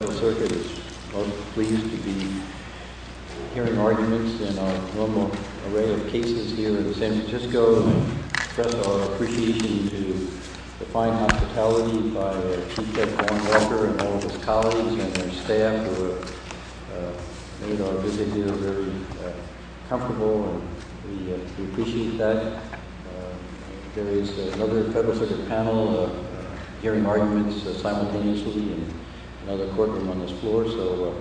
The Federal Circuit is most pleased to be hearing arguments in our global array of cases here in San Francisco. We express our appreciation to the fine hospitality by Chief Judge Warren Walker and all of his colleagues and their staff who have made our visit here very comfortable, and we appreciate that. There is another Federal Circuit panel hearing arguments simultaneously in another courtroom on this floor, so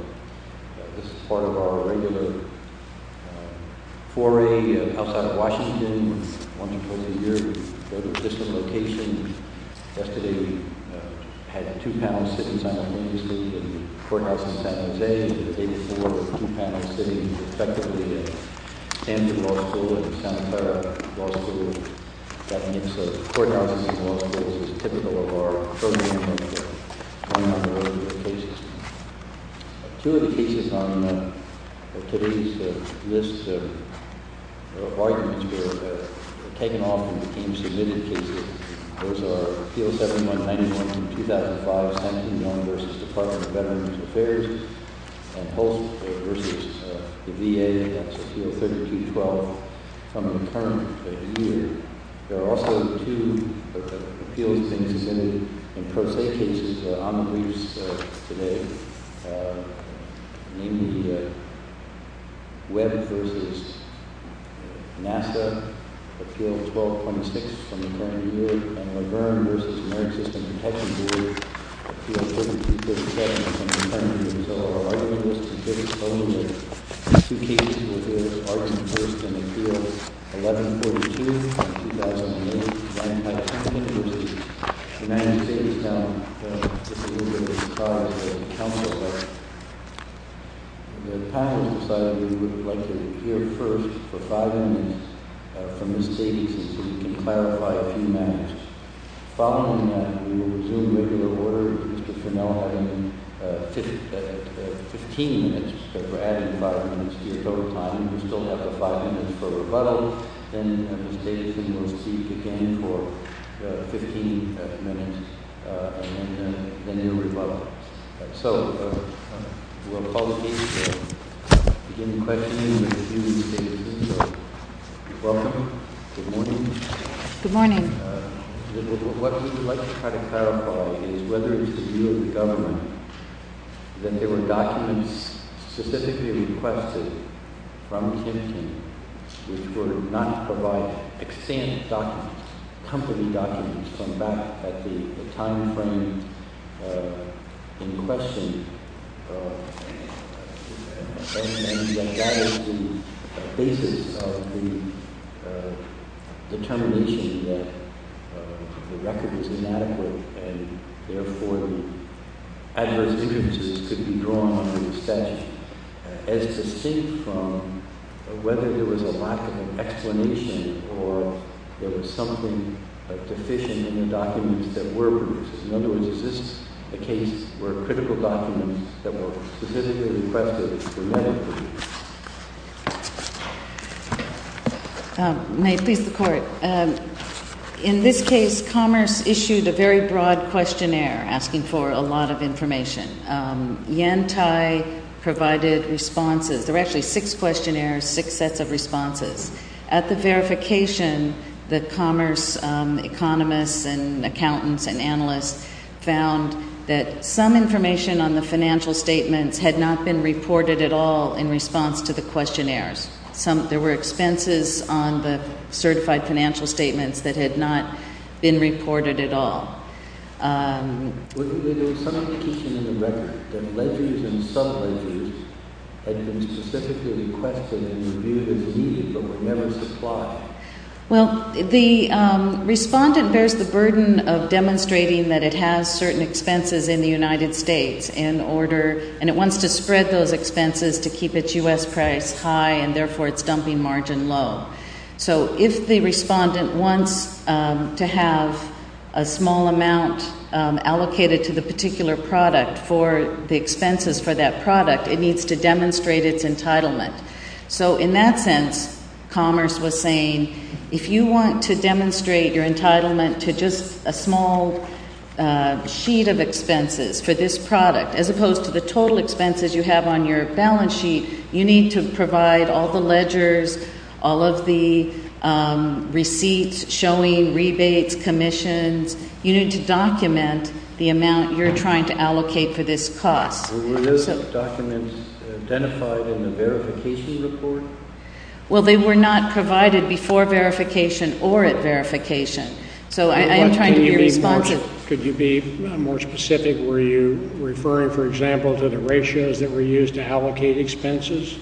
this is part of our regular foray outside of Washington once or twice a year. We go to a distant location. Yesterday, we had two panels sitting simultaneously in the courthouse in San Jose. Today, we have four or two panels sitting effectively in Sanford Law School and Santa Clara Law School. That mix of courthouses and law schools is typical of our program here in San Jose. Two of the cases on today's list of arguments were taken off and became submitted cases. Those are Appeal 7191 from 2005, San Antonio v. Department of Veterans Affairs, and Hulse v. the VA. That's Appeal 3212 from the current year. There are also two appeals being submitted in pro se cases on the briefs today, namely Webb v. NASA, Appeal 1226 from the current year, and Laverne v. American System Protection Board, Appeal 3257 from the current year. Those are all arguments submitted solely in two cases, with those arguments first in Appeals 1142 and 2008, presented by Tim Hinckley of the United States Counsel. The panel decided that we would like to hear first for five minutes from Ms. Davies so that we can clarify a few matters. Following that, we will resume regular order with Mr. Finnell having 15 minutes, but we're adding five minutes here over time. We still have the five minutes for rebuttal. Then Ms. Davies will proceed again for 15 minutes and then a rebuttal. So we'll call the meeting to begin questioning with you, Ms. Davies. Welcome. Good morning. Good morning. What we'd like to try to clarify is whether it's the view of the government that there were documents specifically requested from Tim Hinckley which would not provide extant documents, company documents, from back at the time frame in question, and that that is the basis of the determination that the record is inadequate and therefore the adverse influences could be drawn from the statute as distinct from whether there was a lack of an explanation or there was something deficient in the documents that were produced. In other words, is this a case where critical documents that were specifically requested were not produced? May it please the Court. In this case, Commerce issued a very broad questionnaire asking for a lot of information. Yen Tai provided responses. There were actually six questionnaires, six sets of responses. At the verification, the Commerce economists and accountants and analysts found that some information on the financial statements had not been reported at all in response to the questionnaires. There were expenses on the certified financial statements that had not been reported at all. There was some indication in the record that ledgers and subledgers had been specifically requested and reviewed as needed but were never supplied. Well, the respondent bears the burden of demonstrating that it has certain expenses in the United States and it wants to spread those expenses to keep its U.S. price high and therefore its dumping margin low. So if the respondent wants to have a small amount allocated to the particular product for the expenses for that product, it needs to demonstrate its entitlement. So in that sense, Commerce was saying, if you want to demonstrate your entitlement to just a small sheet of expenses for this product as opposed to the total expenses you have on your balance sheet, you need to provide all the ledgers, all of the receipts, showing, rebates, commissions. You need to document the amount you're trying to allocate for this cost. Were those documents identified in the verification report? Well, they were not provided before verification or at verification. So I am trying to be responsive. Could you be more specific? Were you referring, for example, to the ratios that were used to allocate expenses?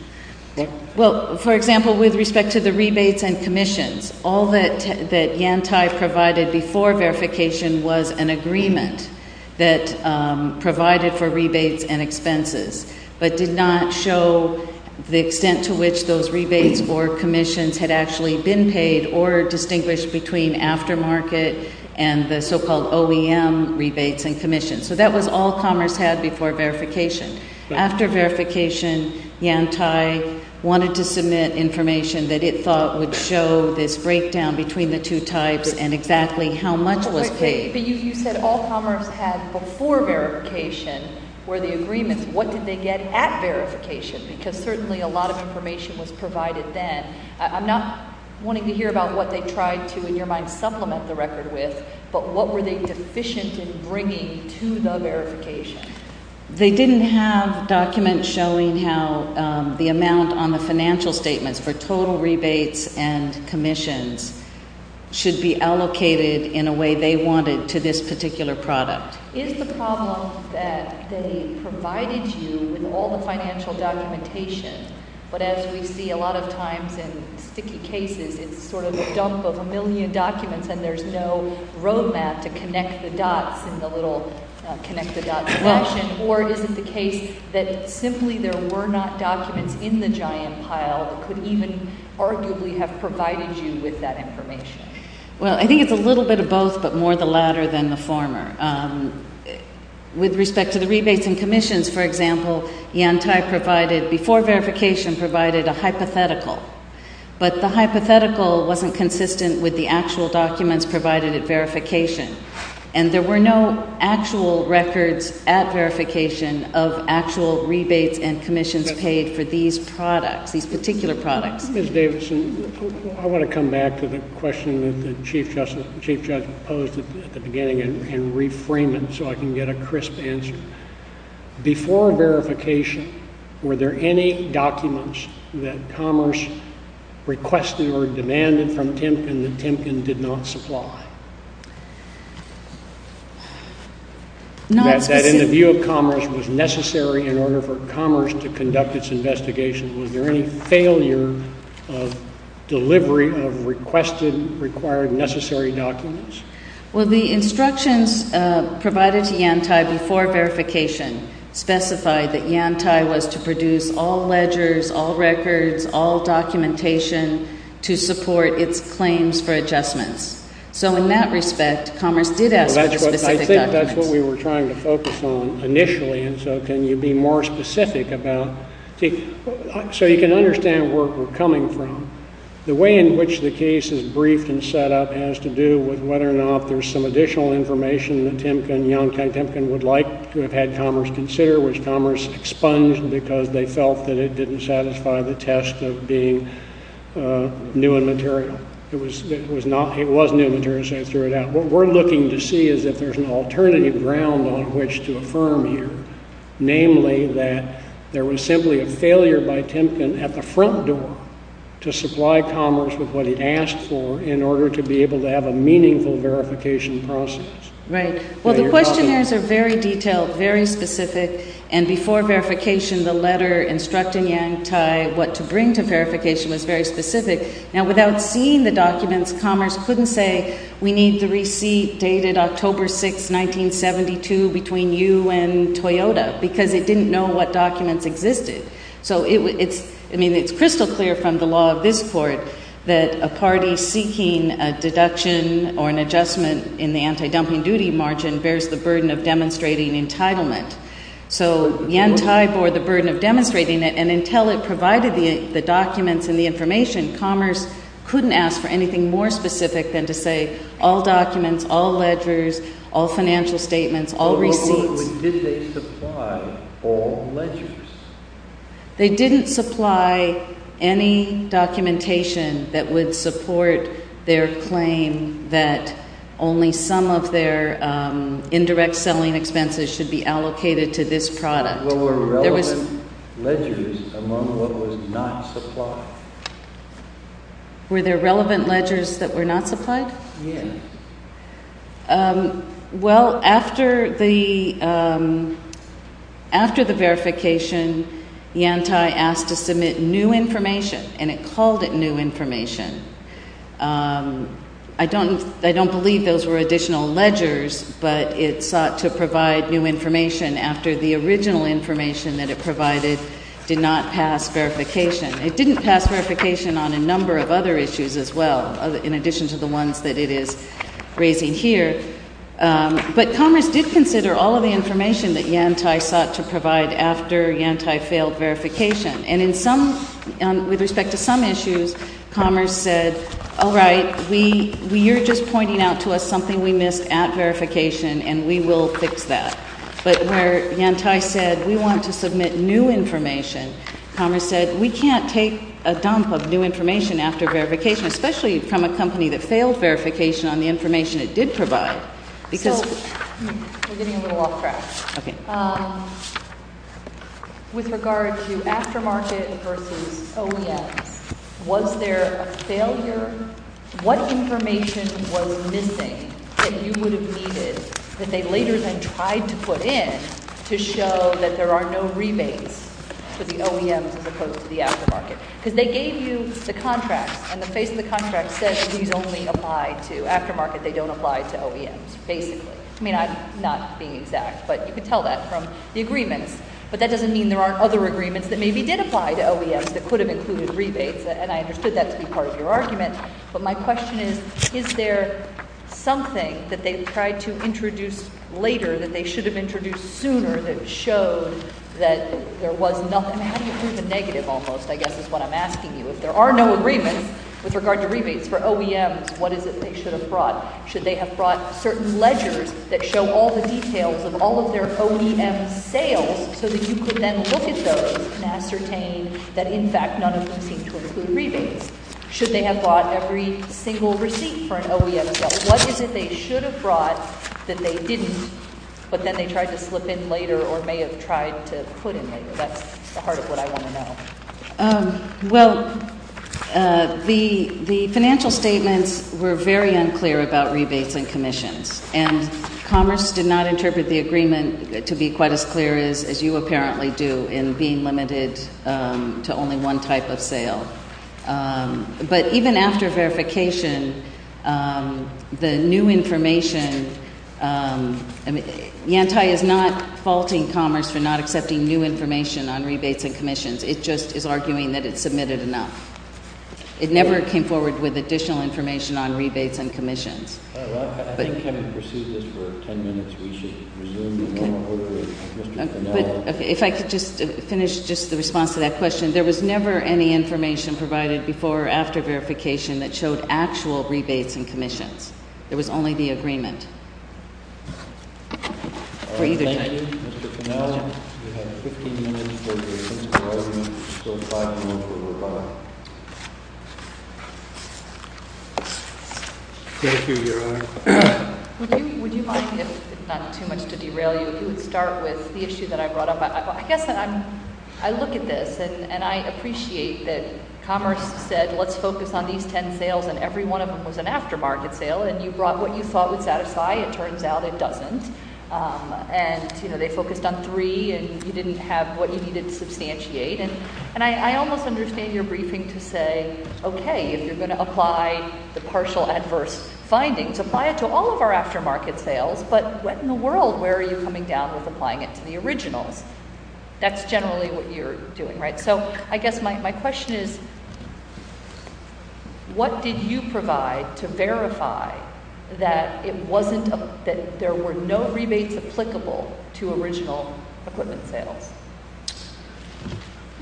Well, for example, with respect to the rebates and commissions, all that Yantai provided before verification was an agreement that provided for rebates and expenses but did not show the extent to which those rebates or commissions had actually been paid or distinguished between aftermarket and the so-called OEM rebates and commissions. So that was all Commerce had before verification. After verification, Yantai wanted to submit information that it thought would show this breakdown between the two types and exactly how much was paid. But you said all Commerce had before verification were the agreements. What did they get at verification? Because certainly a lot of information was provided then. I'm not wanting to hear about what they tried to, in your mind, supplement the record with, but what were they deficient in bringing to the verification? They didn't have documents showing how the amount on the financial statements for total rebates and commissions should be allocated in a way they wanted to this particular product. Is the problem that they provided you with all the financial documentation but as we see a lot of times in sticky cases, it's sort of a dump of a million documents and there's no road map to connect the dots in the little connect-the-dots question? Or is it the case that simply there were not documents in the giant pile that could even arguably have provided you with that information? Well, I think it's a little bit of both but more the latter than the former. With respect to the rebates and commissions, for example, Yantai provided, before verification, provided a hypothetical, but the hypothetical wasn't consistent with the actual documents provided at verification, and there were no actual records at verification of actual rebates and commissions paid for these products, these particular products. Ms. Davidson, I want to come back to the question that the Chief Justice posed at the beginning and reframe it so I can get a crisp answer. Before verification, were there any documents that Commerce requested or demanded from Timken that Timken did not supply? That in the view of Commerce was necessary in order for Commerce to conduct its investigation, was there any failure of delivery of requested, required, necessary documents? Well, the instructions provided to Yantai before verification specified that Yantai was to produce all ledgers, all records, all documentation to support its claims for adjustments. So in that respect, Commerce did ask for the specific documents. I think that's what we were trying to focus on initially, and so can you be more specific about, so you can understand where we're coming from. The way in which the case is briefed and set up has to do with whether or not there's some additional information that Timken and Yantai Timken would like to have had Commerce consider, which Commerce expunged because they felt that it didn't satisfy the test of being new in material. It was new in material, so they threw it out. What we're looking to see is if there's an alternative ground on which to affirm here, namely that there was simply a failure by Timken at the front door to supply Commerce with what he asked for in order to be able to have a meaningful verification process. Right. Well, the questionnaires are very detailed, very specific, and before verification, the letter instructing Yantai what to bring to verification was very specific. Now, without seeing the documents, Commerce couldn't say, we need the receipt dated October 6, 1972, between you and Toyota, because it didn't know what documents existed. So it's crystal clear from the law of this Court that a party seeking a deduction or an adjustment in the anti-dumping duty margin bears the burden of demonstrating entitlement. So Yantai bore the burden of demonstrating it, and until it provided the documents and the information, Commerce couldn't ask for anything more specific than to say, all documents, all ledgers, all financial statements, all receipts. But did they supply all ledgers? They didn't supply any documentation that would support their claim that only some of their indirect selling expenses should be allocated to this product. Were there relevant ledgers among what was not supplied? Were there relevant ledgers that were not supplied? Yes. Well, after the verification, Yantai asked to submit new information, and it called it new information. I don't believe those were additional ledgers, but it sought to provide new information after the original information that it provided did not pass verification. It didn't pass verification on a number of other issues as well, in addition to the ones that it is raising here. But Commerce did consider all of the information that Yantai sought to provide after Yantai failed verification. And in some, with respect to some issues, Commerce said, all right, you're just pointing out to us something we missed at verification, and we will fix that. But where Yantai said, we want to submit new information, Commerce said, we can't take a dump of new information after verification, especially from a company that failed verification on the information it did provide. So, we're getting a little off track. Okay. With regard to aftermarket versus OEMs, was there a failure? What information was missing that you would have needed that they later then tried to put in to show that there are no rebates for the OEMs as opposed to the aftermarket? Because they gave you the contracts, and the face of the contract said that these only apply to aftermarket. They don't apply to OEMs, basically. I mean, I'm not being exact, but you can tell that from the agreements. But that doesn't mean there aren't other agreements that maybe did apply to OEMs that could have included rebates. And I understood that to be part of your argument. But my question is, is there something that they tried to introduce later that they should have introduced sooner that showed that there was nothing? How do you prove a negative almost, I guess, is what I'm asking you. If there are no agreements with regard to rebates for OEMs, what is it they should have brought? Should they have brought certain ledgers that show all the details of all of their OEM sales, so that you could then look at those and ascertain that, in fact, none of them seem to include rebates? Should they have bought every single receipt for an OEM? What is it they should have brought that they didn't, but then they tried to slip in later or may have tried to put in later? That's the heart of what I want to know. Well, the financial statements were very unclear about rebates and commissions, and Commerce did not interpret the agreement to be quite as clear as you apparently do in being limited to only one type of sale. But even after verification, the new information, I mean, Yantai is not faulting Commerce for not accepting new information on rebates and commissions. It just is arguing that it submitted enough. It never came forward with additional information on rebates and commissions. Well, I think having pursued this for 10 minutes, we should resume the normal order with Mr. Cannella. But if I could just finish just the response to that question. There was never any information provided before or after verification that showed actual rebates and commissions. There was only the agreement for either type. Thank you. Mr. Cannella, you have 15 minutes. Those five minutes will go by. Thank you, Your Honor. Would you mind if, not too much to derail you, you would start with the issue that I brought up? I guess I look at this, and I appreciate that Commerce said let's focus on these 10 sales, and every one of them was an aftermarket sale. And you brought what you thought would satisfy. It turns out it doesn't. And they focused on three, and you didn't have what you needed to substantiate. And I almost understand your briefing to say, okay, if you're going to apply the partial adverse findings, apply it to all of our aftermarket sales. But what in the world, where are you coming down with applying it to the originals? That's generally what you're doing, right? So I guess my question is, what did you provide to verify that it wasn't, that there were no rebates applicable to original equipment sales?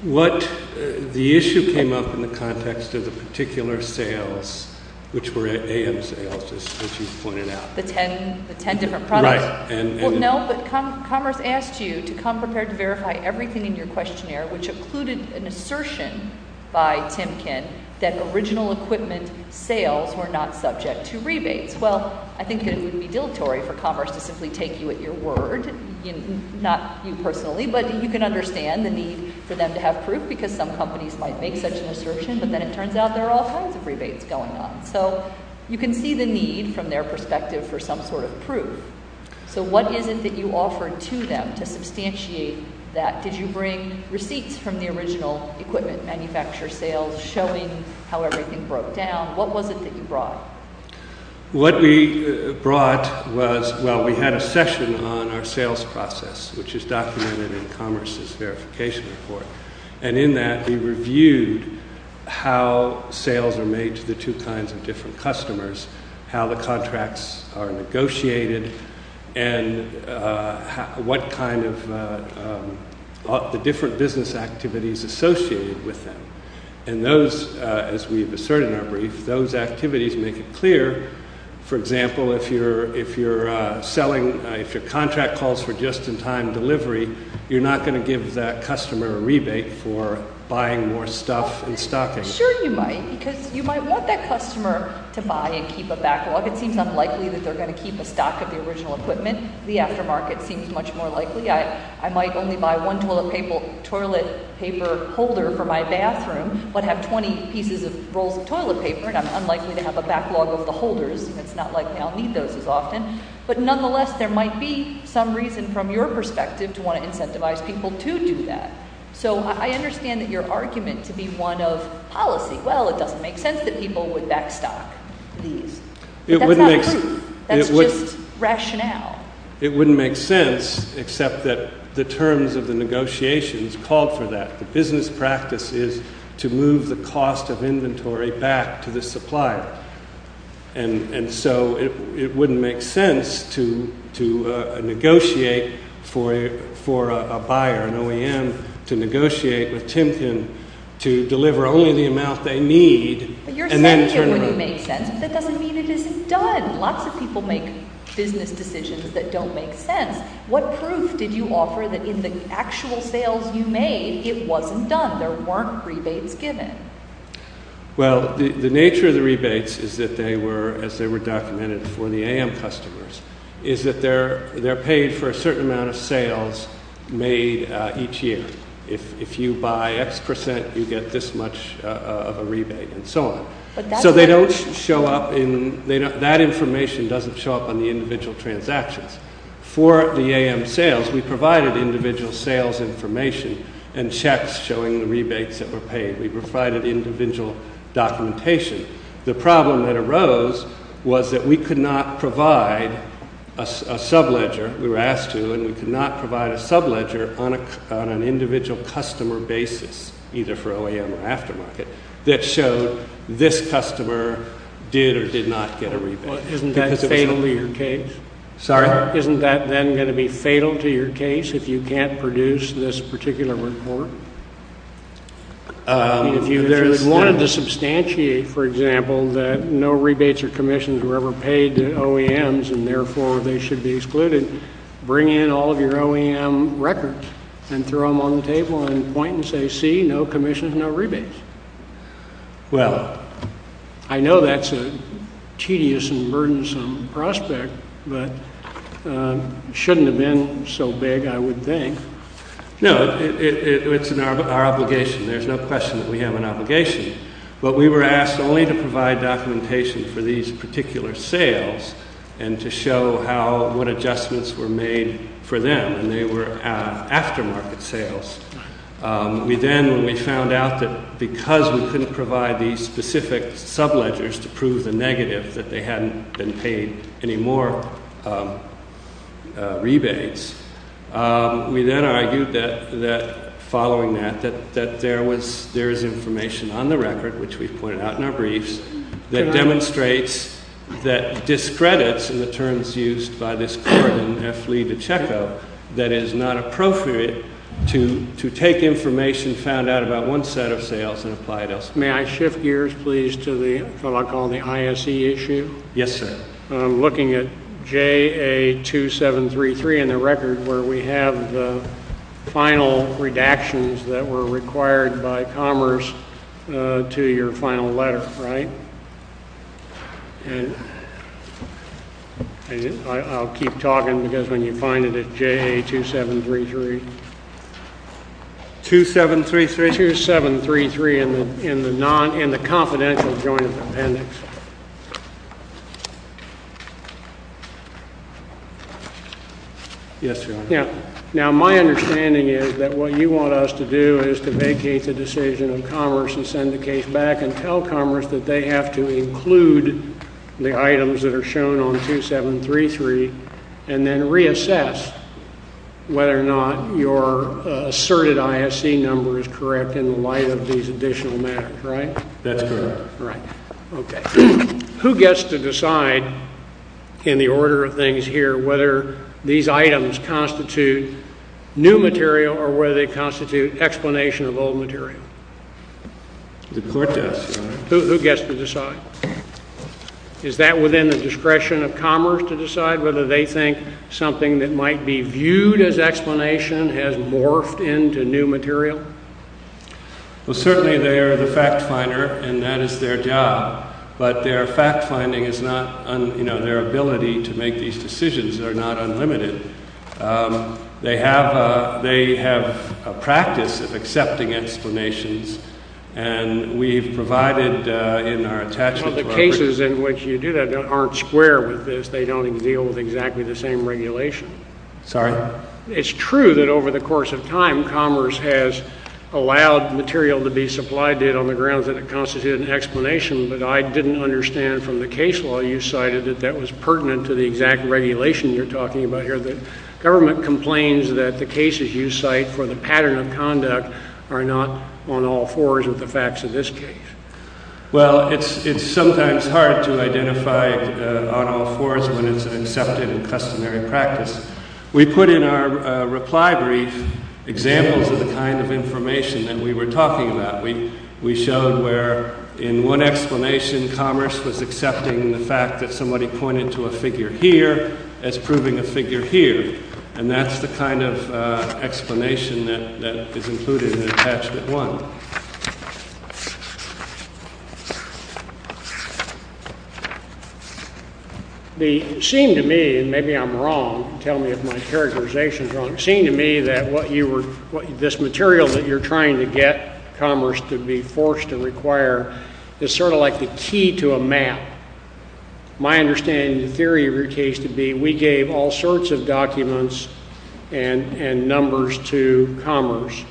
What the issue came up in the context of the particular sales, which were AM sales, as you pointed out. The 10 different products? Right. No, but Commerce asked you to come prepared to verify everything in your questionnaire, which included an assertion by Timken that original equipment sales were not subject to rebates. Well, I think it would be dilatory for Commerce to simply take you at your word, not you personally, but you can understand the need for them to have proof because some companies might make such an assertion, but then it turns out there are all kinds of rebates going on. So you can see the need from their perspective for some sort of proof. So what is it that you offered to them to substantiate that? Did you bring receipts from the original equipment manufacturer sales showing how everything broke down? What was it that you brought? What we brought was, well, we had a session on our sales process, which is documented in Commerce's verification report. And in that, we reviewed how sales are made to the two kinds of different customers, how the contracts are negotiated, and what kind of the different business activities associated with them. And those, as we've asserted in our brief, those activities make it clear, for example, if you're selling, if your contract calls for just-in-time delivery, you're not going to give that customer a rebate for buying more stuff and stocking. Sure you might because you might want that customer to buy and keep a backlog. It seems unlikely that they're going to keep a stock of the original equipment. The aftermarket seems much more likely. I might only buy one toilet paper holder for my bathroom but have 20 pieces of rolls of toilet paper, and I'm unlikely to have a backlog of the holders. It's not likely I'll need those as often. But nonetheless, there might be some reason from your perspective to want to incentivize people to do that. So I understand that your argument to be one of policy, well, it doesn't make sense that people would back stock these. But that's not proof. That's just rationale. It wouldn't make sense except that the terms of the negotiations called for that. The business practice is to move the cost of inventory back to the supplier. And so it wouldn't make sense to negotiate for a buyer, an OEM, to negotiate with Timpkin to deliver only the amount they need and then turn around. You're saying it wouldn't make sense, but that doesn't mean it isn't done. Lots of people make business decisions that don't make sense. What proof did you offer that in the actual sales you made, it wasn't done, there weren't rebates given? Well, the nature of the rebates is that they were, as they were documented for the AM customers, is that they're paid for a certain amount of sales made each year. If you buy X percent, you get this much of a rebate and so on. So they don't show up in, that information doesn't show up on the individual transactions. For the AM sales, we provided individual sales information and checks showing the rebates that were paid. We provided individual documentation. The problem that arose was that we could not provide a sub-ledger. We were asked to, and we could not provide a sub-ledger on an individual customer basis, either for OEM or aftermarket, that showed this customer did or did not get a rebate. Isn't that fatal to your case? Sorry? Isn't that then going to be fatal to your case if you can't produce this particular report? If you wanted to substantiate, for example, that no rebates or commissions were ever paid to OEMs and therefore they should be excluded, bring in all of your OEM records and throw them on the table and point and say, see, no commissions, no rebates. Well, I know that's a tedious and burdensome prospect, but it shouldn't have been so big, I would think. No, it's our obligation. There's no question that we have an obligation. But we were asked only to provide documentation for these particular sales and to show what adjustments were made for them, and they were aftermarket sales. We then, when we found out that because we couldn't provide these specific sub-ledgers to prove the negative, that they hadn't been paid any more rebates, we then argued that, following that, that there is information on the record, which we've pointed out in our briefs, that demonstrates that discredits, in the terms used by this court in F. Lee v. Checco, that it is not appropriate to take information found out about one set of sales and apply it elsewhere. May I shift gears, please, to what I call the ISE issue? Yes, sir. I'm looking at JA2733 in the record where we have the final redactions that were required by Commerce to your final letter, right? And I'll keep talking because when you find it, it's JA2733. 2733? 2733 in the confidential joint appendix. Yes, Your Honor. Now, my understanding is that what you want us to do is to vacate the decision of Commerce and send the case back and tell Commerce that they have to include the items that are shown on 2733 and then reassess whether or not your asserted ISE number is correct in the light of these additional matters, right? That's correct. Right. Okay. Who gets to decide, in the order of things here, whether these items constitute new material or whether they constitute explanation of old material? The court does, Your Honor. Who gets to decide? Is that within the discretion of Commerce to decide whether they think something that might be viewed as explanation has morphed into new material? Well, certainly they are the fact finder, and that is their job. But their fact finding is not, you know, their ability to make these decisions are not unlimited. They have a practice of accepting explanations, and we've provided in our attachment to our Well, the cases in which you do that aren't square with this. They don't deal with exactly the same regulation. Sorry? It's true that over the course of time, Commerce has allowed material to be supplied to it on the grounds that it constituted an explanation, but I didn't understand from the case law you cited that that was pertinent to the exact regulation you're talking about here. The government complains that the cases you cite for the pattern of conduct are not on all fours with the facts of this case. Well, it's sometimes hard to identify on all fours when it's an accepted and customary practice. We put in our reply brief examples of the kind of information that we were talking about. We showed where in one explanation Commerce was accepting the fact that somebody pointed to a figure here as proving a figure here, and that's the kind of explanation that is included in Attachment 1. It seemed to me, and maybe I'm wrong, tell me if my characterization is wrong, it seemed to me that what you were this material that you're trying to get Commerce to be forced to require is sort of like the key to a map. My understanding of the theory of your case would be we gave all sorts of documents and numbers to Commerce,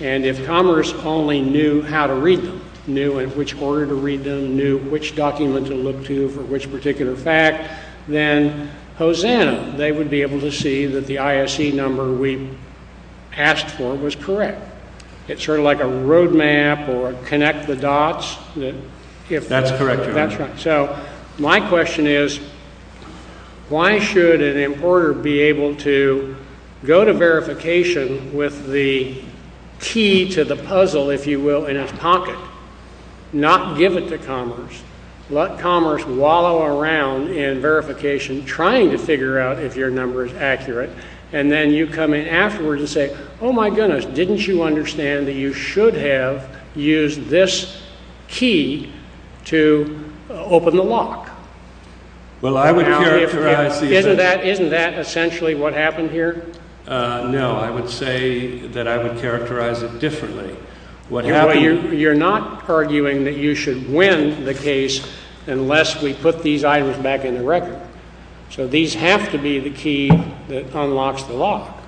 and if Commerce only knew how to read them, knew in which order to read them, knew which document to look to for which particular fact, then Hosanna, they would be able to see that the ISE number we asked for was correct. It's sort of like a roadmap or connect the dots. That's correct, Your Honor. So my question is why should an importer be able to go to verification with the key to the puzzle, if you will, in his pocket, not give it to Commerce, let Commerce wallow around in verification trying to figure out if your number is accurate, and then you come in afterwards and say, oh, my goodness, didn't you understand that you should have used this key to open the lock? Isn't that essentially what happened here? No, I would say that I would characterize it differently. You're not arguing that you should win the case unless we put these items back in the record. So these have to be the key that unlocks the lock.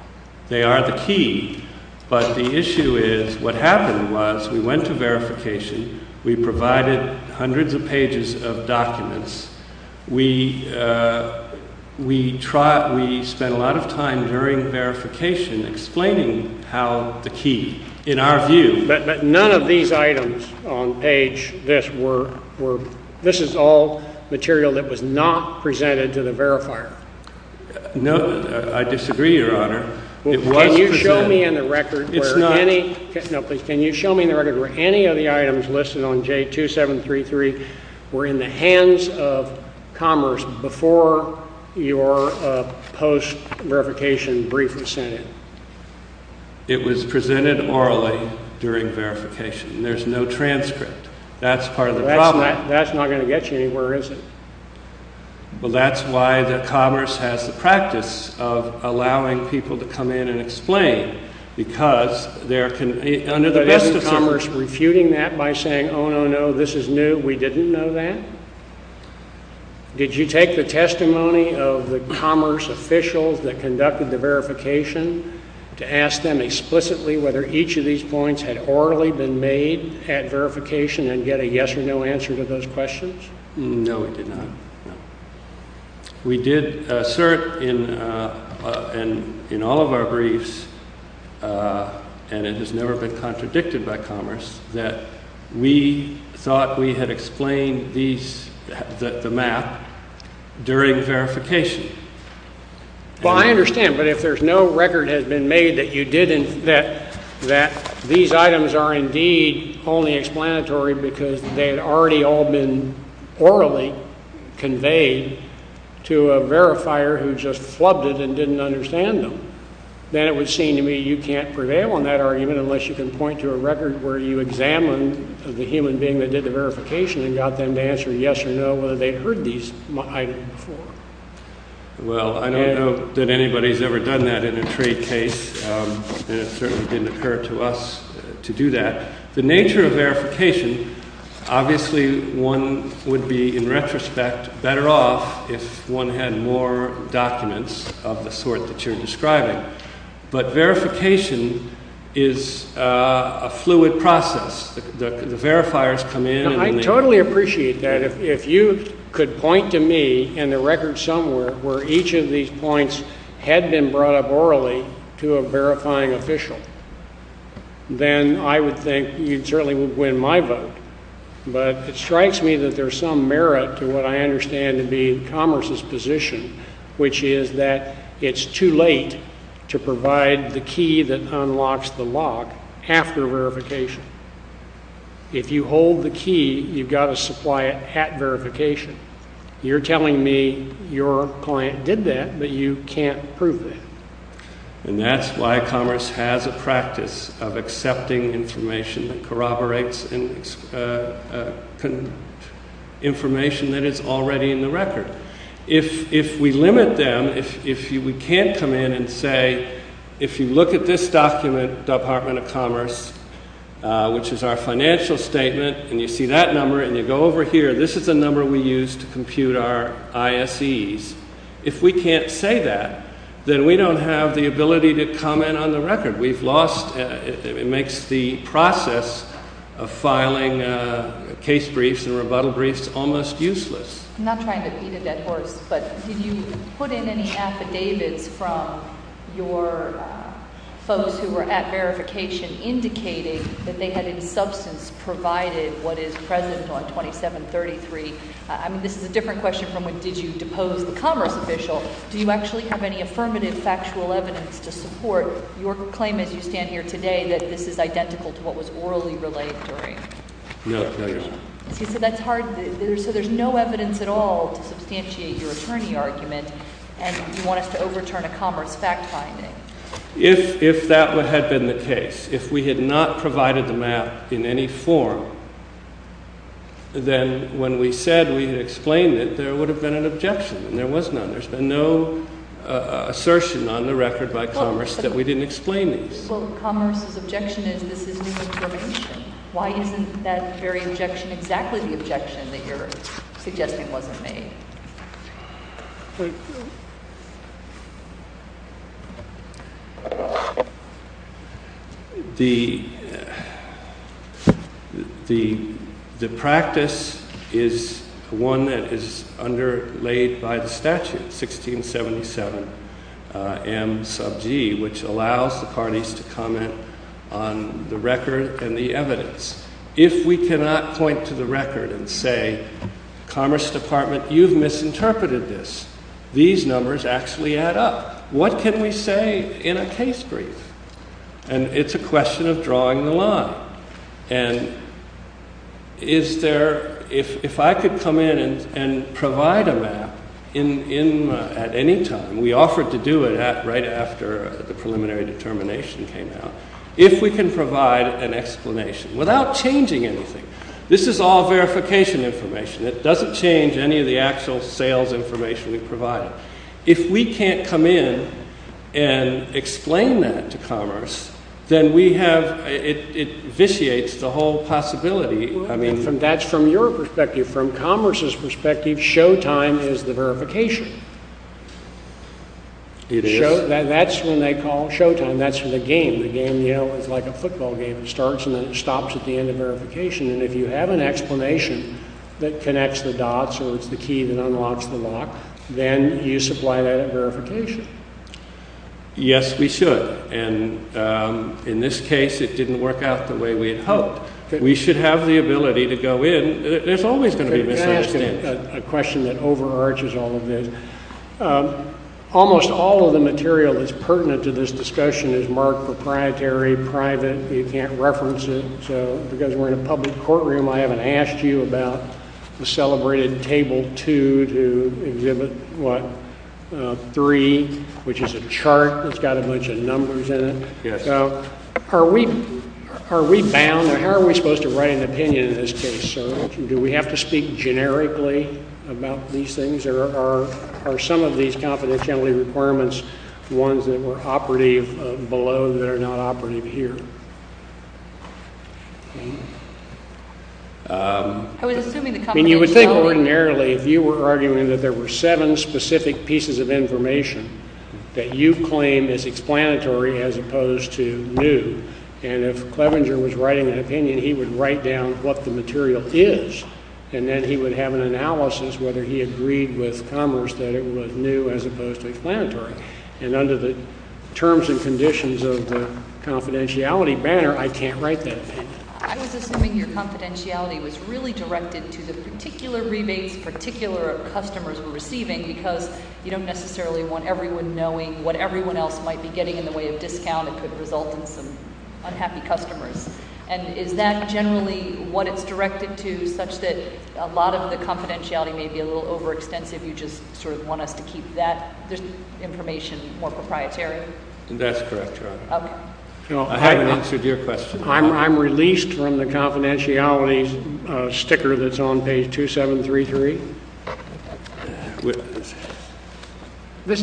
They are the key. But the issue is what happened was we went to verification. We provided hundreds of pages of documents. We spent a lot of time during verification explaining how the key, in our view. But none of these items on page this were, this is all material that was not presented to the verifier. No, I disagree, Your Honor. It was presented. Can you show me in the record where any of the items listed on J2733 were in the hands of Commerce before your post-verification brief was sent in? It was presented orally during verification. There's no transcript. That's part of the problem. That's not going to get you anywhere, is it? Well, that's why Commerce has the practice of allowing people to come in and explain because there can be, under the best of circumstances. But isn't Commerce refuting that by saying, oh, no, no, this is new, we didn't know that? Did you take the testimony of the Commerce officials that conducted the verification to ask them explicitly whether each of these points had orally been made at verification and get a yes or no answer to those questions? No, we did not. We did assert in all of our briefs, and it has never been contradicted by Commerce, that we thought we had explained these, the map, during verification. Well, I understand, but if there's no record has been made that these items are indeed only explanatory because they had already all been orally conveyed to a verifier who just flubbed it and didn't understand them, then it would seem to me you can't prevail on that argument unless you can point to a record where you examined the human being that did the verification and got them to answer yes or no whether they'd heard these items before. Well, I don't know that anybody's ever done that in a trade case, and it certainly didn't occur to us to do that. The nature of verification, obviously, one would be, in retrospect, better off if one had more documents of the sort that you're describing. But verification is a fluid process. The verifiers come in and they— then I would think you certainly would win my vote. But it strikes me that there's some merit to what I understand to be Commerce's position, which is that it's too late to provide the key that unlocks the lock after verification. If you hold the key, you've got to supply it at verification. You're telling me your client did that, but you can't prove that. And that's why Commerce has a practice of accepting information that corroborates information that is already in the record. If we limit them, if we can't come in and say, if you look at this document, Department of Commerce, which is our financial statement, and you see that number and you go over here, this is the number we use to compute our ISEs. If we can't say that, then we don't have the ability to comment on the record. We've lost—it makes the process of filing case briefs and rebuttal briefs almost useless. I'm not trying to beat a dead horse, but did you put in any affidavits from your folks who were at verification indicating that they had in substance provided what is present on 2733? I mean, this is a different question from, did you depose the Commerce official? Do you actually have any affirmative factual evidence to support your claim as you stand here today that this is identical to what was orally relayed during? No, no, Your Honor. See, so that's hard. So there's no evidence at all to substantiate your attorney argument, and you want us to overturn a Commerce fact-finding. If that had been the case, if we had not provided the map in any form, then when we said we had explained it, there would have been an objection, and there was none. There's been no assertion on the record by Commerce that we didn't explain these. Well, Commerce's objection is this is new information. Why isn't that very objection exactly the objection that you're suggesting wasn't made? The practice is one that is underlaid by the statute, 1677M sub G, which allows the parties to comment on the record and the evidence. If we cannot point to the record and say, Commerce Department, you've misinterpreted this, these numbers actually add up. What can we say in a case brief? And it's a question of drawing the line. And is there, if I could come in and provide a map at any time, we offered to do it right after the preliminary determination came out, if we can provide an explanation without changing anything. This is all verification information. It doesn't change any of the actual sales information we provided. If we can't come in and explain that to Commerce, then we have, it vitiates the whole possibility. That's from your perspective. From Commerce's perspective, Showtime is the verification. It is. That's when they call Showtime. That's for the game. The game, you know, is like a football game. It starts and then it stops at the end of verification. And if you have an explanation that connects the dots or it's the key that unlocks the lock, then you supply that at verification. Yes, we should. And in this case, it didn't work out the way we had hoped. We should have the ability to go in. There's always going to be a misunderstanding. Can I ask a question that overarches all of this? Almost all of the material that's pertinent to this discussion is marked proprietary, private. You can't reference it. So because we're in a public courtroom, I haven't asked you about the celebrated Table 2 to exhibit, what, 3, which is a chart that's got a bunch of numbers in it. Yes. Are we bound or how are we supposed to write an opinion in this case, sir? Do we have to speak generically about these things? Or are some of these confidentiality requirements ones that were operative below that are not operative here? I mean, you would think ordinarily if you were arguing that there were seven specific pieces of information that you've claimed is explanatory as opposed to new. And if Clevenger was writing an opinion, he would write down what the material is. And then he would have an analysis whether he agreed with Commerce that it was new as opposed to explanatory. And under the terms and conditions of the confidentiality banner, I can't write that opinion. I was assuming your confidentiality was really directed to the particular rebates particular customers were receiving because you don't necessarily want everyone knowing what everyone else might be getting in the way of discount. It could result in some unhappy customers. And is that generally what it's directed to such that a lot of the confidentiality may be a little overextensive? You just sort of want us to keep that information more proprietary? That's correct, Your Honor. Okay. I haven't answered your question. I'm released from the confidentiality sticker that's on page 2733.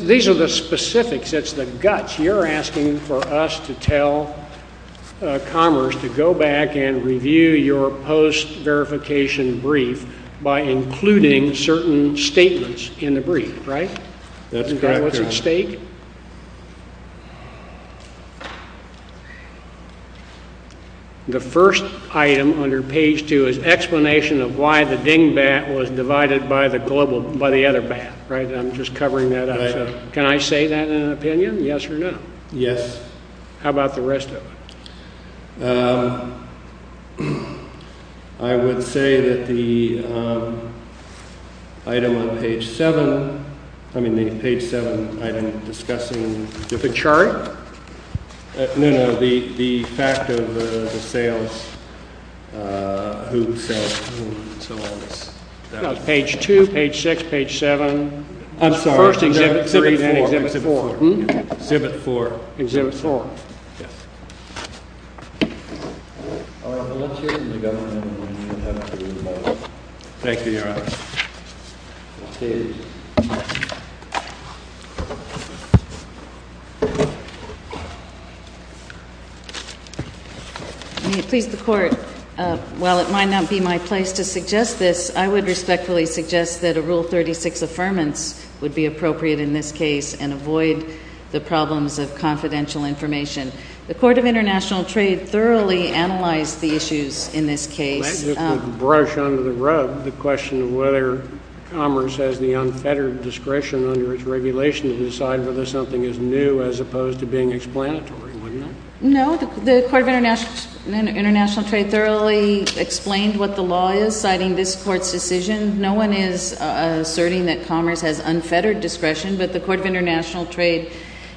These are the specifics. It's the guts. You're asking for us to tell Commerce to go back and review your post-verification brief by including certain statements in the brief, right? That's correct, Your Honor. What's at stake? The first item under page 2 is explanation of why the dingbat was divided by the other bat, right? I'm just covering that up. Can I say that in an opinion, yes or no? Yes. How about the rest of it? I would say that the item on page 7, I mean, the page 7 item discussing the fact of the sales. Page 2, page 6, page 7. I'm sorry. Exhibit 4. Exhibit 4. Exhibit 4. Thank you, Your Honor. May it please the Court, while it might not be my place to suggest this, I would respectfully suggest that a Rule 36 affirmance would be appropriate in this case and avoid the problems of confidential information. The Court of International Trade thoroughly analyzed the issues in this case. That would brush under the rug the question of whether Commerce has the unfettered discretion under its regulation to decide whether something is new as opposed to being explanatory, wouldn't it? No. The Court of International Trade thoroughly explained what the law is citing this Court's decision. No one is asserting that Commerce has unfettered discretion, but the Court of International Trade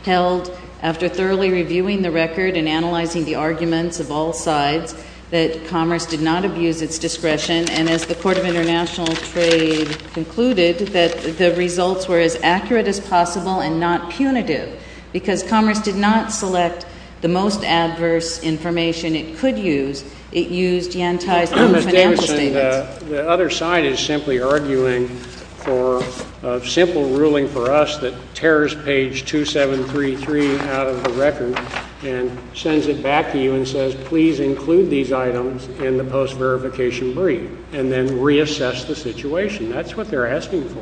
held, after thoroughly reviewing the record and analyzing the arguments of all sides, that Commerce did not abuse its discretion. And as the Court of International Trade concluded, that the results were as accurate as possible and not punitive, because Commerce did not select the most adverse information it could use. It used the anti-financial statements. The other side is simply arguing for a simple ruling for us that tears page 2733 out of the record and sends it back to you and says, please include these items in the post-verification brief, and then reassess the situation. That's what they're asking for,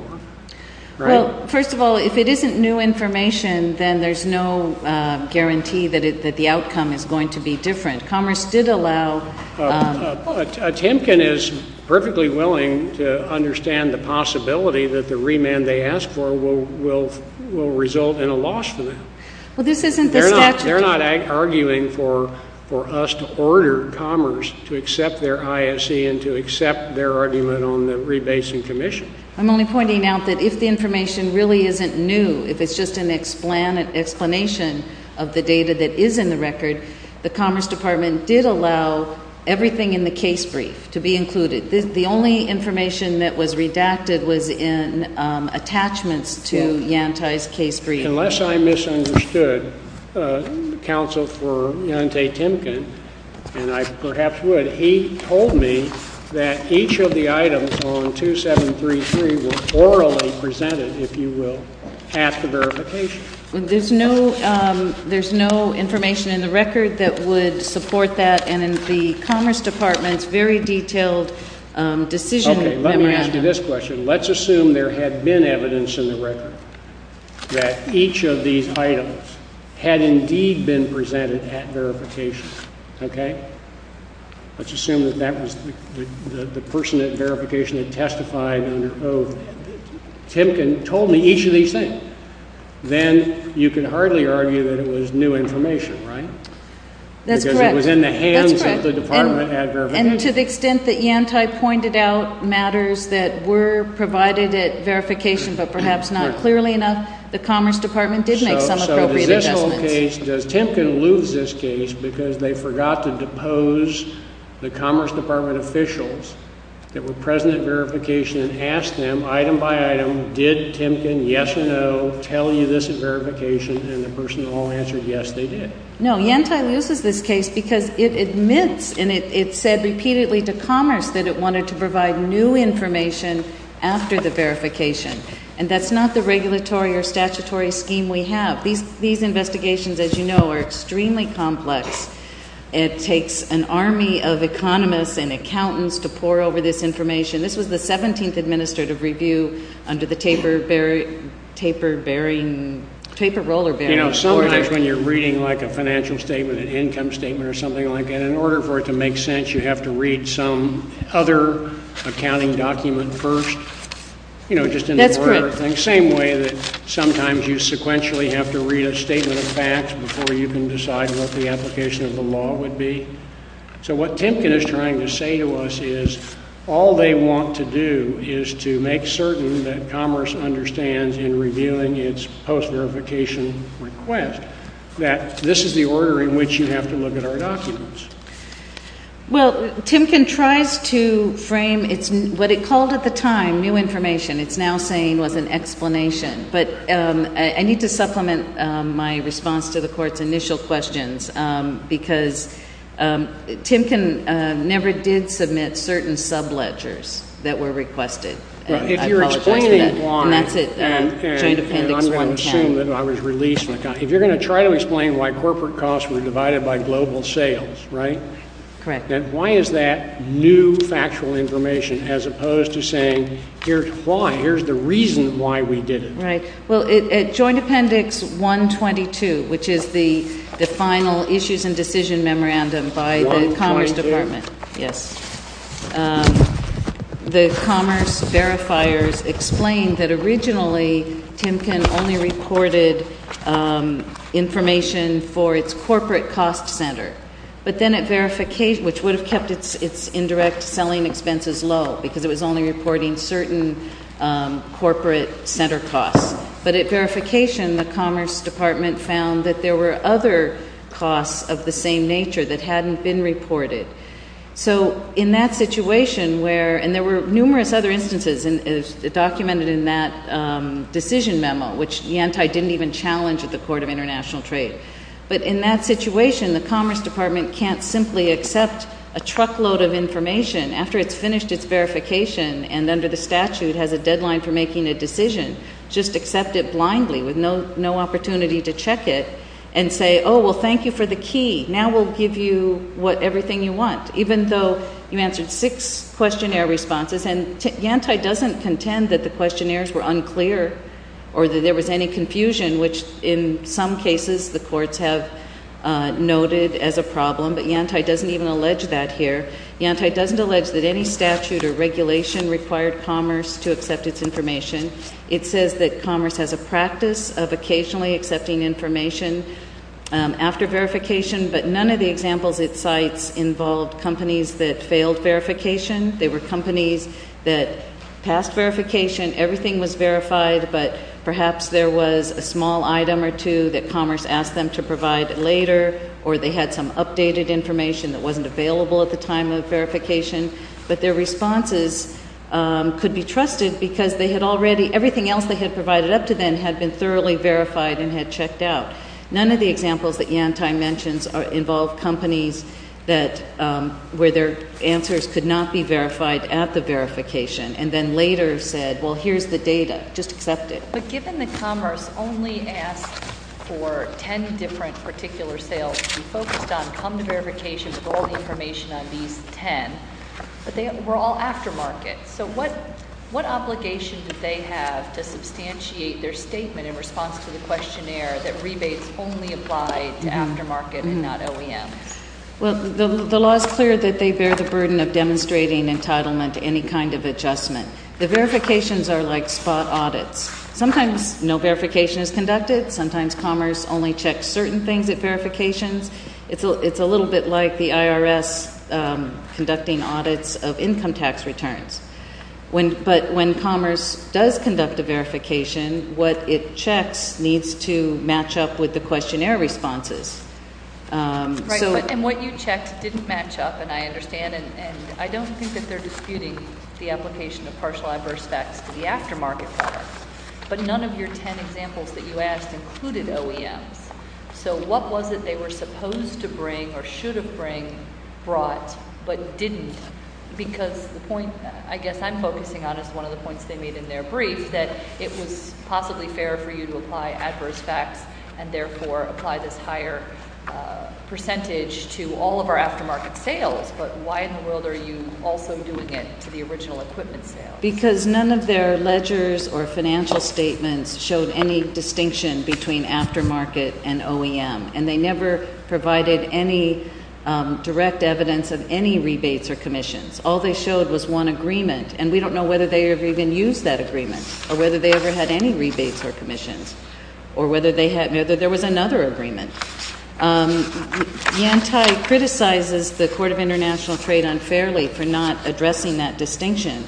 right? Well, first of all, if it isn't new information, then there's no guarantee that the outcome is going to be different. Commerce did allow — Timken is perfectly willing to understand the possibility that the remand they ask for will result in a loss for them. Well, this isn't the statute. They're not arguing for us to order Commerce to accept their ISE and to accept their argument on the rebasing commission. I'm only pointing out that if the information really isn't new, if it's just an explanation of the data that is in the record, the Commerce Department did allow everything in the case brief to be included. The only information that was redacted was in attachments to Yanti's case brief. Unless I misunderstood counsel for Yanti Timken, and I perhaps would, he told me that each of the items on 2733 were orally presented, if you will, after verification. There's no information in the record that would support that. And in the Commerce Department's very detailed decision memorandum —— that each of these items had indeed been presented at verification, okay? Let's assume that that was the person at verification that testified under oath. Timken told me each of these things. Then you can hardly argue that it was new information, right? That's correct. And to the extent that Yanti pointed out matters that were provided at verification but perhaps not clearly enough, the Commerce Department did make some appropriate adjustments. So does this whole case — does Timken lose this case because they forgot to depose the Commerce Department officials that were present at verification and asked them item by item, did Timken, yes or no, tell you this at verification, and the person in the long answer, yes, they did? No, Yanti loses this case because it admits and it said repeatedly to Commerce that it wanted to provide new information after the verification. And that's not the regulatory or statutory scheme we have. These investigations, as you know, are extremely complex. It takes an army of economists and accountants to pore over this information. This was the 17th administrative review under the taper bearing — taper roller bearing. You know, sometimes when you're reading like a financial statement, an income statement or something like that, in order for it to make sense, you have to read some other accounting document first, you know, just in order. That's correct. Same way that sometimes you sequentially have to read a statement of facts before you can decide what the application of the law would be. So what Timken is trying to say to us is all they want to do is to make certain that Commerce understands in reviewing its post-verification request that this is the order in which you have to look at our documents. Well, Timken tries to frame what it called at the time new information. It's now saying it was an explanation. But I need to supplement my response to the Court's initial questions because Timken never did submit certain sub-ledgers that were requested. Right. If you're explaining why — And that's it. And I'm going to assume that I was released. If you're going to try to explain why corporate costs were divided by global sales, right? Correct. Then why is that new factual information as opposed to saying here's why, here's the reason why we did it? Right. Well, at Joint Appendix 122, which is the final issues and decision memorandum by the Commerce Department — 122. Yes. — the Commerce verifiers explained that originally Timken only reported information for its corporate cost center. But then it verification — which would have kept its indirect selling expenses low because it was only reporting certain corporate center costs. But at verification, the Commerce Department found that there were other costs of the same nature that hadn't been reported. So in that situation where — and there were numerous other instances documented in that decision memo, which Yanti didn't even challenge at the Court of International Trade. But in that situation, the Commerce Department can't simply accept a truckload of information after it's finished its verification and under the statute has a deadline for making a decision. Just accept it blindly with no opportunity to check it and say, oh, well, thank you for the key. Now we'll give you everything you want, even though you answered six questionnaire responses. And Yanti doesn't contend that the questionnaires were unclear or that there was any confusion, which in some cases the courts have noted as a problem. But Yanti doesn't even allege that here. Yanti doesn't allege that any statute or regulation required commerce to accept its information. It says that commerce has a practice of occasionally accepting information after verification, but none of the examples it cites involved companies that failed verification. They were companies that passed verification, everything was verified, but perhaps there was a small item or two that commerce asked them to provide later, or they had some updated information that wasn't available at the time of verification. But their responses could be trusted because they had already, everything else they had provided up to then had been thoroughly verified and had checked out. None of the examples that Yanti mentions involve companies that, where their answers could not be verified at the verification and then later said, well, here's the data. Just accept it. But given that commerce only asked for ten different particular sales to be focused on, come to verification with all the information on these ten, but they were all aftermarket. So what obligation did they have to substantiate their statement in response to the questionnaire that rebates only apply to aftermarket and not OEMs? Well, the law is clear that they bear the burden of demonstrating entitlement to any kind of adjustment. The verifications are like spot audits. Sometimes no verification is conducted. Sometimes commerce only checks certain things at verifications. It's a little bit like the IRS conducting audits of income tax returns. But when commerce does conduct a verification, what it checks needs to match up with the questionnaire responses. Right. And what you checked didn't match up, and I understand. And I don't think that they're disputing the application of partial adverse facts to the aftermarket products. But none of your ten examples that you asked included OEMs. So what was it they were supposed to bring or should have brought but didn't? Because the point I guess I'm focusing on is one of the points they made in their brief, that it was possibly fair for you to apply adverse facts and therefore apply this higher percentage to all of our aftermarket sales. But why in the world are you also doing it to the original equipment sales? Because none of their ledgers or financial statements showed any distinction between aftermarket and OEM, and they never provided any direct evidence of any rebates or commissions. All they showed was one agreement, and we don't know whether they ever even used that agreement or whether they ever had any rebates or commissions or whether there was another agreement. Yantai criticizes the Court of International Trade unfairly for not addressing that distinction,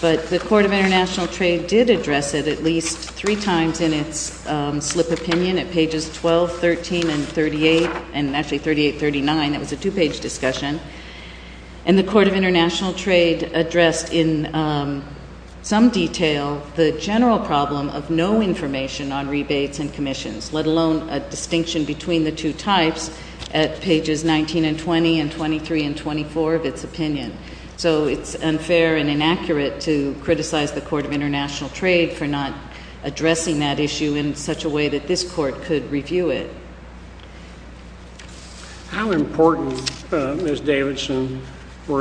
but the Court of International Trade did address it at least three times in its slip opinion at pages 12, 13, and 38, and actually 38, 39. That was a two-page discussion. And the Court of International Trade addressed in some detail the general problem of no information on rebates and commissions, let alone a distinction between the two types at pages 19 and 20 and 23 and 24 of its opinion. So it's unfair and inaccurate to criticize the Court of International Trade for not addressing that issue in such a way that this Court could review it. How important, Ms. Davidson, on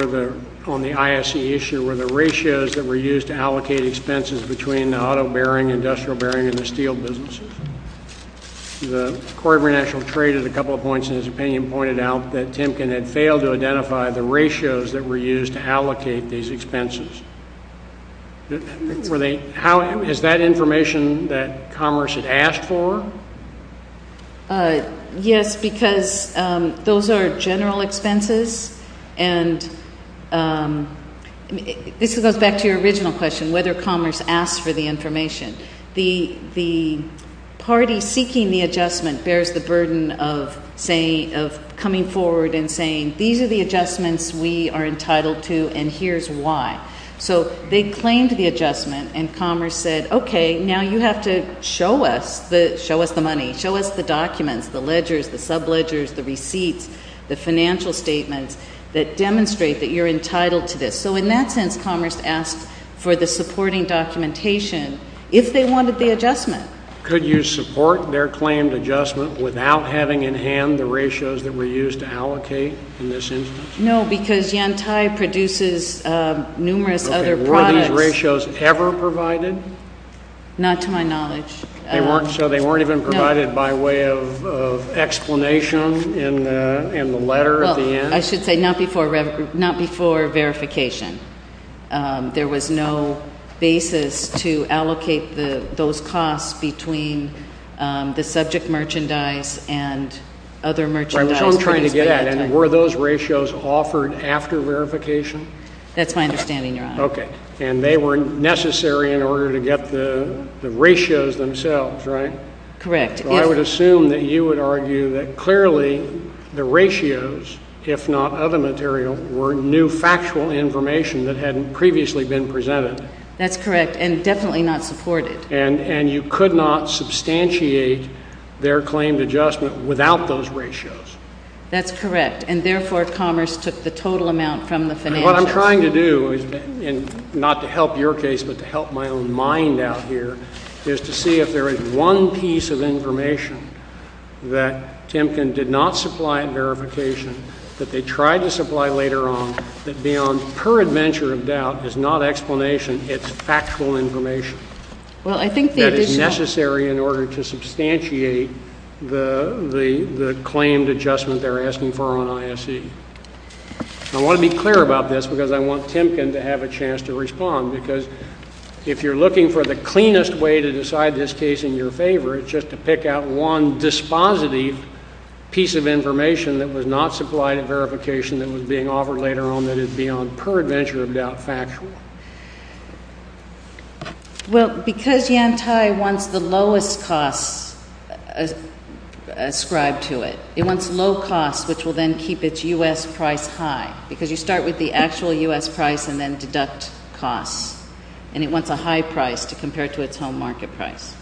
the ISC issue were the ratios that were used to allocate expenses between the auto bearing, industrial bearing, and the steel businesses? The Court of International Trade, at a couple of points in its opinion, pointed out that Timken had failed to identify the ratios that were used to allocate these expenses. Is that information that Commerce had asked for? Yes, because those are general expenses, and this goes back to your original question, whether Commerce asked for the information. The party seeking the adjustment bears the burden of coming forward and saying, these are the adjustments we are entitled to and here's why. So they claimed the adjustment, and Commerce said, okay, now you have to show us the money, show us the documents, the ledgers, the subledgers, the receipts, the financial statements that demonstrate that you're entitled to this. So in that sense, Commerce asked for the supporting documentation if they wanted the adjustment. Could you support their claimed adjustment without having in hand the ratios that were used to allocate in this instance? No, because Yantai produces numerous other products. Okay. Were these ratios ever provided? Not to my knowledge. They weren't? No. So they weren't even provided by way of explanation in the letter at the end? I should say not before verification. There was no basis to allocate those costs between the subject merchandise and other merchandise. Which I'm trying to get at. And were those ratios offered after verification? That's my understanding, Your Honor. Okay. And they were necessary in order to get the ratios themselves, right? Correct. I would assume that you would argue that clearly the ratios, if not other material, were new factual information that hadn't previously been presented. That's correct. And definitely not supported. And you could not substantiate their claimed adjustment without those ratios. That's correct. And therefore, Commerce took the total amount from the financials. What I'm trying to do, and not to help your case but to help my own mind out here, is to see if there is one piece of information that Timken did not supply at verification, that they tried to supply later on, that beyond peradventure of doubt is not explanation, it's factual information. Well, I think the additional — That is necessary in order to substantiate the claimed adjustment they're asking for on ISE. I want to be clear about this because I want Timken to have a chance to respond. Because if you're looking for the cleanest way to decide this case in your favor, it's just to pick out one dispositive piece of information that was not supplied at verification that was being offered later on that is beyond peradventure of doubt factual. Well, because Yantai wants the lowest costs ascribed to it, it wants low costs which will then keep its U.S. price high. Because you start with the actual U.S. price and then deduct costs. And it wants a high price to compare to its home market price.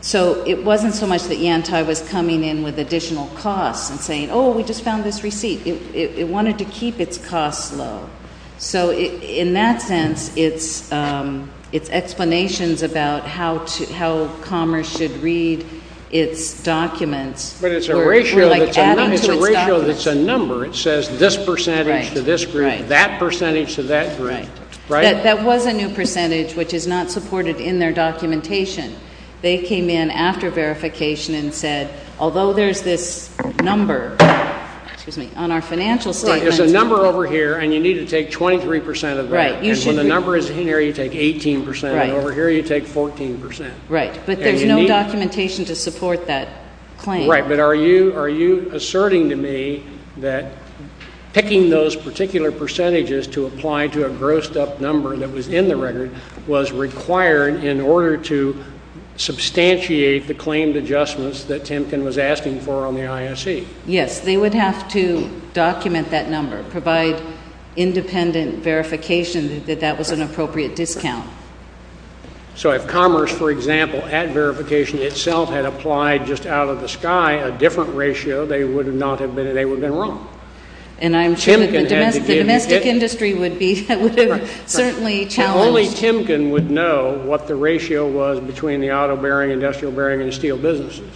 So it wasn't so much that Yantai was coming in with additional costs and saying, oh, we just found this receipt. It wanted to keep its costs low. So in that sense, it's explanations about how commerce should read its documents. But it's a ratio that's a number. It says this percentage to this group, that percentage to that group. That was a new percentage which is not supported in their documentation. They came in after verification and said, although there's this number on our financial statements. It's a number over here, and you need to take 23% of that. And when the number is in here, you take 18%. And over here, you take 14%. Right. But there's no documentation to support that claim. Right. But are you asserting to me that picking those particular percentages to apply to a grossed-up number that was in the record was required in order to substantiate the claimed adjustments that Temkin was asking for on the ISE? Yes. They would have to document that number, provide independent verification that that was an appropriate discount. So if commerce, for example, at verification itself had applied just out of the sky a different ratio, they would have been wrong. And I'm sure that the domestic industry would have certainly challenged. Only Temkin would know what the ratio was between the auto bearing, industrial bearing, and steel businesses.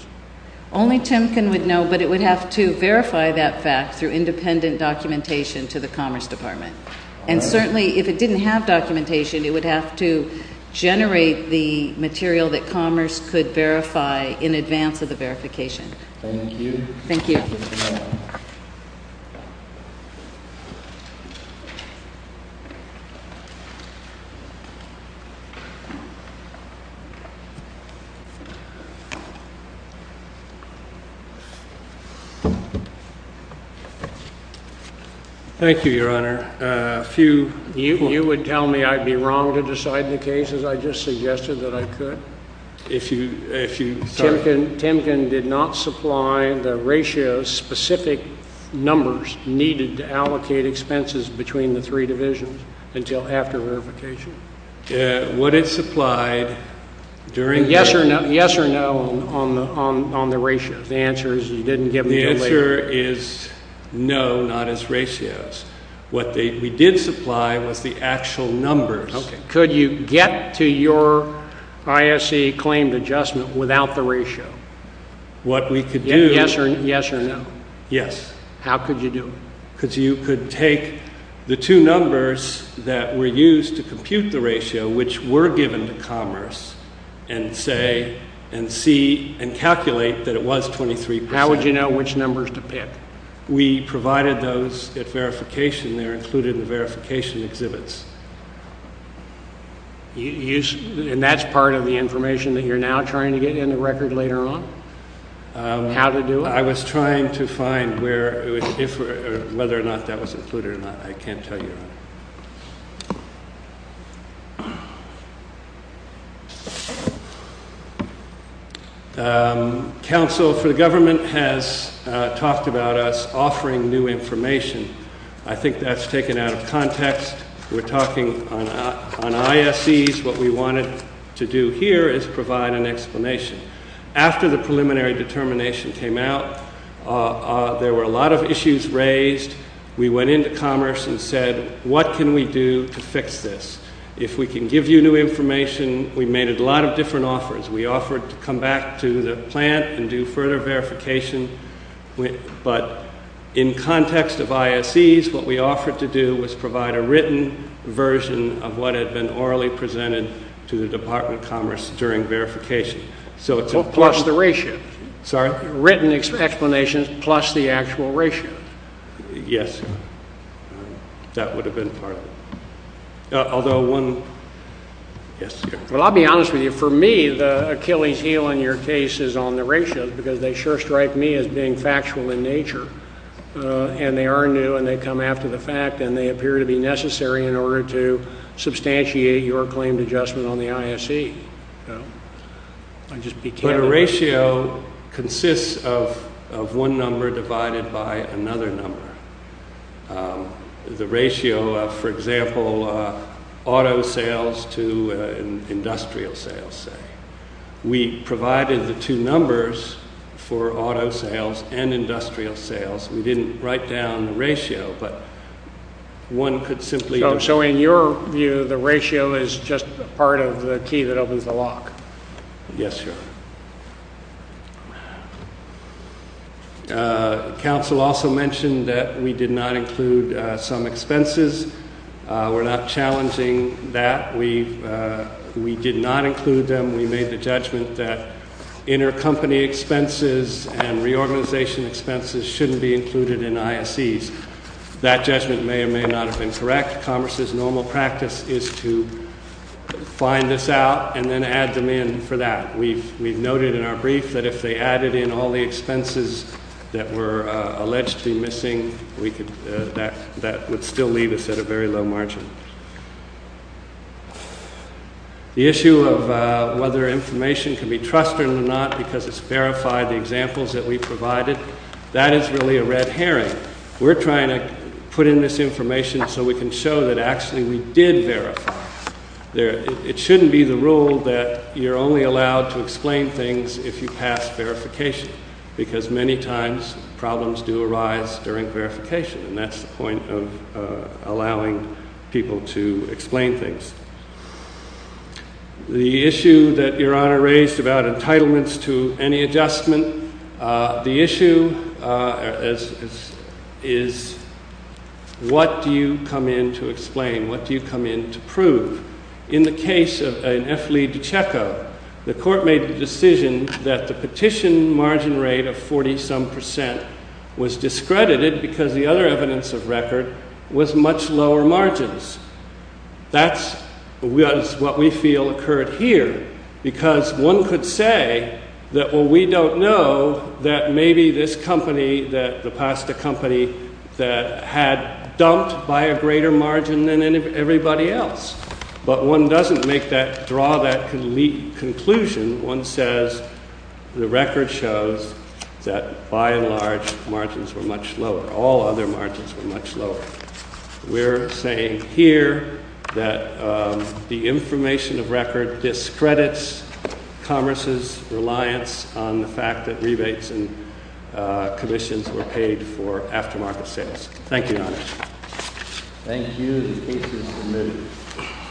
Only Temkin would know, but it would have to verify that fact through independent documentation to the Commerce Department. And certainly, if it didn't have documentation, it would have to generate the material that Commerce could verify in advance of the verification. Thank you. Thank you, Your Honor. If you would tell me I'd be wrong to decide the cases, I just suggested that I could. Temkin did not supply the ratio-specific numbers needed to allocate expenses between the three divisions until after verification. Would it supply during verification? Yes or no on the ratios. The answer is you didn't give them until later. The answer is no, not as ratios. What we did supply was the actual numbers. Could you get to your ISC claimed adjustment without the ratio? Yes or no? Yes. How could you do it? Because you could take the two numbers that were used to compute the ratio, which were given to Commerce, and calculate that it was 23%. How would you know which numbers to pick? We provided those at verification. They're included in the verification exhibits. And that's part of the information that you're now trying to get into record later on, how to do it? I was trying to find whether or not that was included or not. I can't tell you. Counsel for the government has talked about us offering new information. I think that's taken out of context. We're talking on ISEs. What we wanted to do here is provide an explanation. After the preliminary determination came out, there were a lot of issues raised. We went into Commerce and said, what can we do to fix this? If we can give you new information, we made a lot of different offers. We offered to come back to the plant and do further verification. But in context of ISEs, what we offered to do was provide a written version of what had been orally presented to the Department of Commerce during verification. Plus the ratio. Sorry? Written explanations plus the actual ratio. Yes. That would have been part of it. Although one ‑‑ yes. Well, I'll be honest with you. For me, the Achilles heel in your case is on the ratios because they sure strike me as being factual in nature. And they are new and they come after the fact and they appear to be necessary in order to substantiate your claimed adjustment on the ISE. But a ratio consists of one number divided by another number. The ratio of, for example, auto sales to industrial sales, say. We provided the two numbers for auto sales and industrial sales. One could simply ‑‑ So in your view, the ratio is just part of the key that opens the lock? Yes, sir. Council also mentioned that we did not include some expenses. We're not challenging that. We did not include them. We made the judgment that intercompany expenses and reorganization expenses shouldn't be included in ISEs. That judgment may or may not have been correct. Commerce's normal practice is to find this out and then add them in for that. We've noted in our brief that if they added in all the expenses that were allegedly missing, that would still leave us at a very low margin. The issue of whether information can be trusted or not because it's verified, the examples that we provided, that is really a red herring. We're trying to put in this information so we can show that actually we did verify. It shouldn't be the rule that you're only allowed to explain things if you pass verification because many times problems do arise during verification. And that's the point of allowing people to explain things. The issue that Your Honor raised about entitlements to any adjustment, the issue is what do you come in to explain? What do you come in to prove? In the case of an F. Lee DiCecco, the court made the decision that the petition margin rate of 40-some percent was discredited because the other evidence of record was much lower margins. That's what we feel occurred here because one could say that, well, we don't know that maybe this company, the pasta company, that had dumped by a greater margin than everybody else. But one doesn't make that, draw that conclusion. One says the record shows that by and large, margins were much lower. All other margins were much lower. We're saying here that the information of record discredits Congress's reliance on the fact that rebates and commissions were paid for aftermarket sales. Thank you, Your Honor. Thank you. The case is submitted.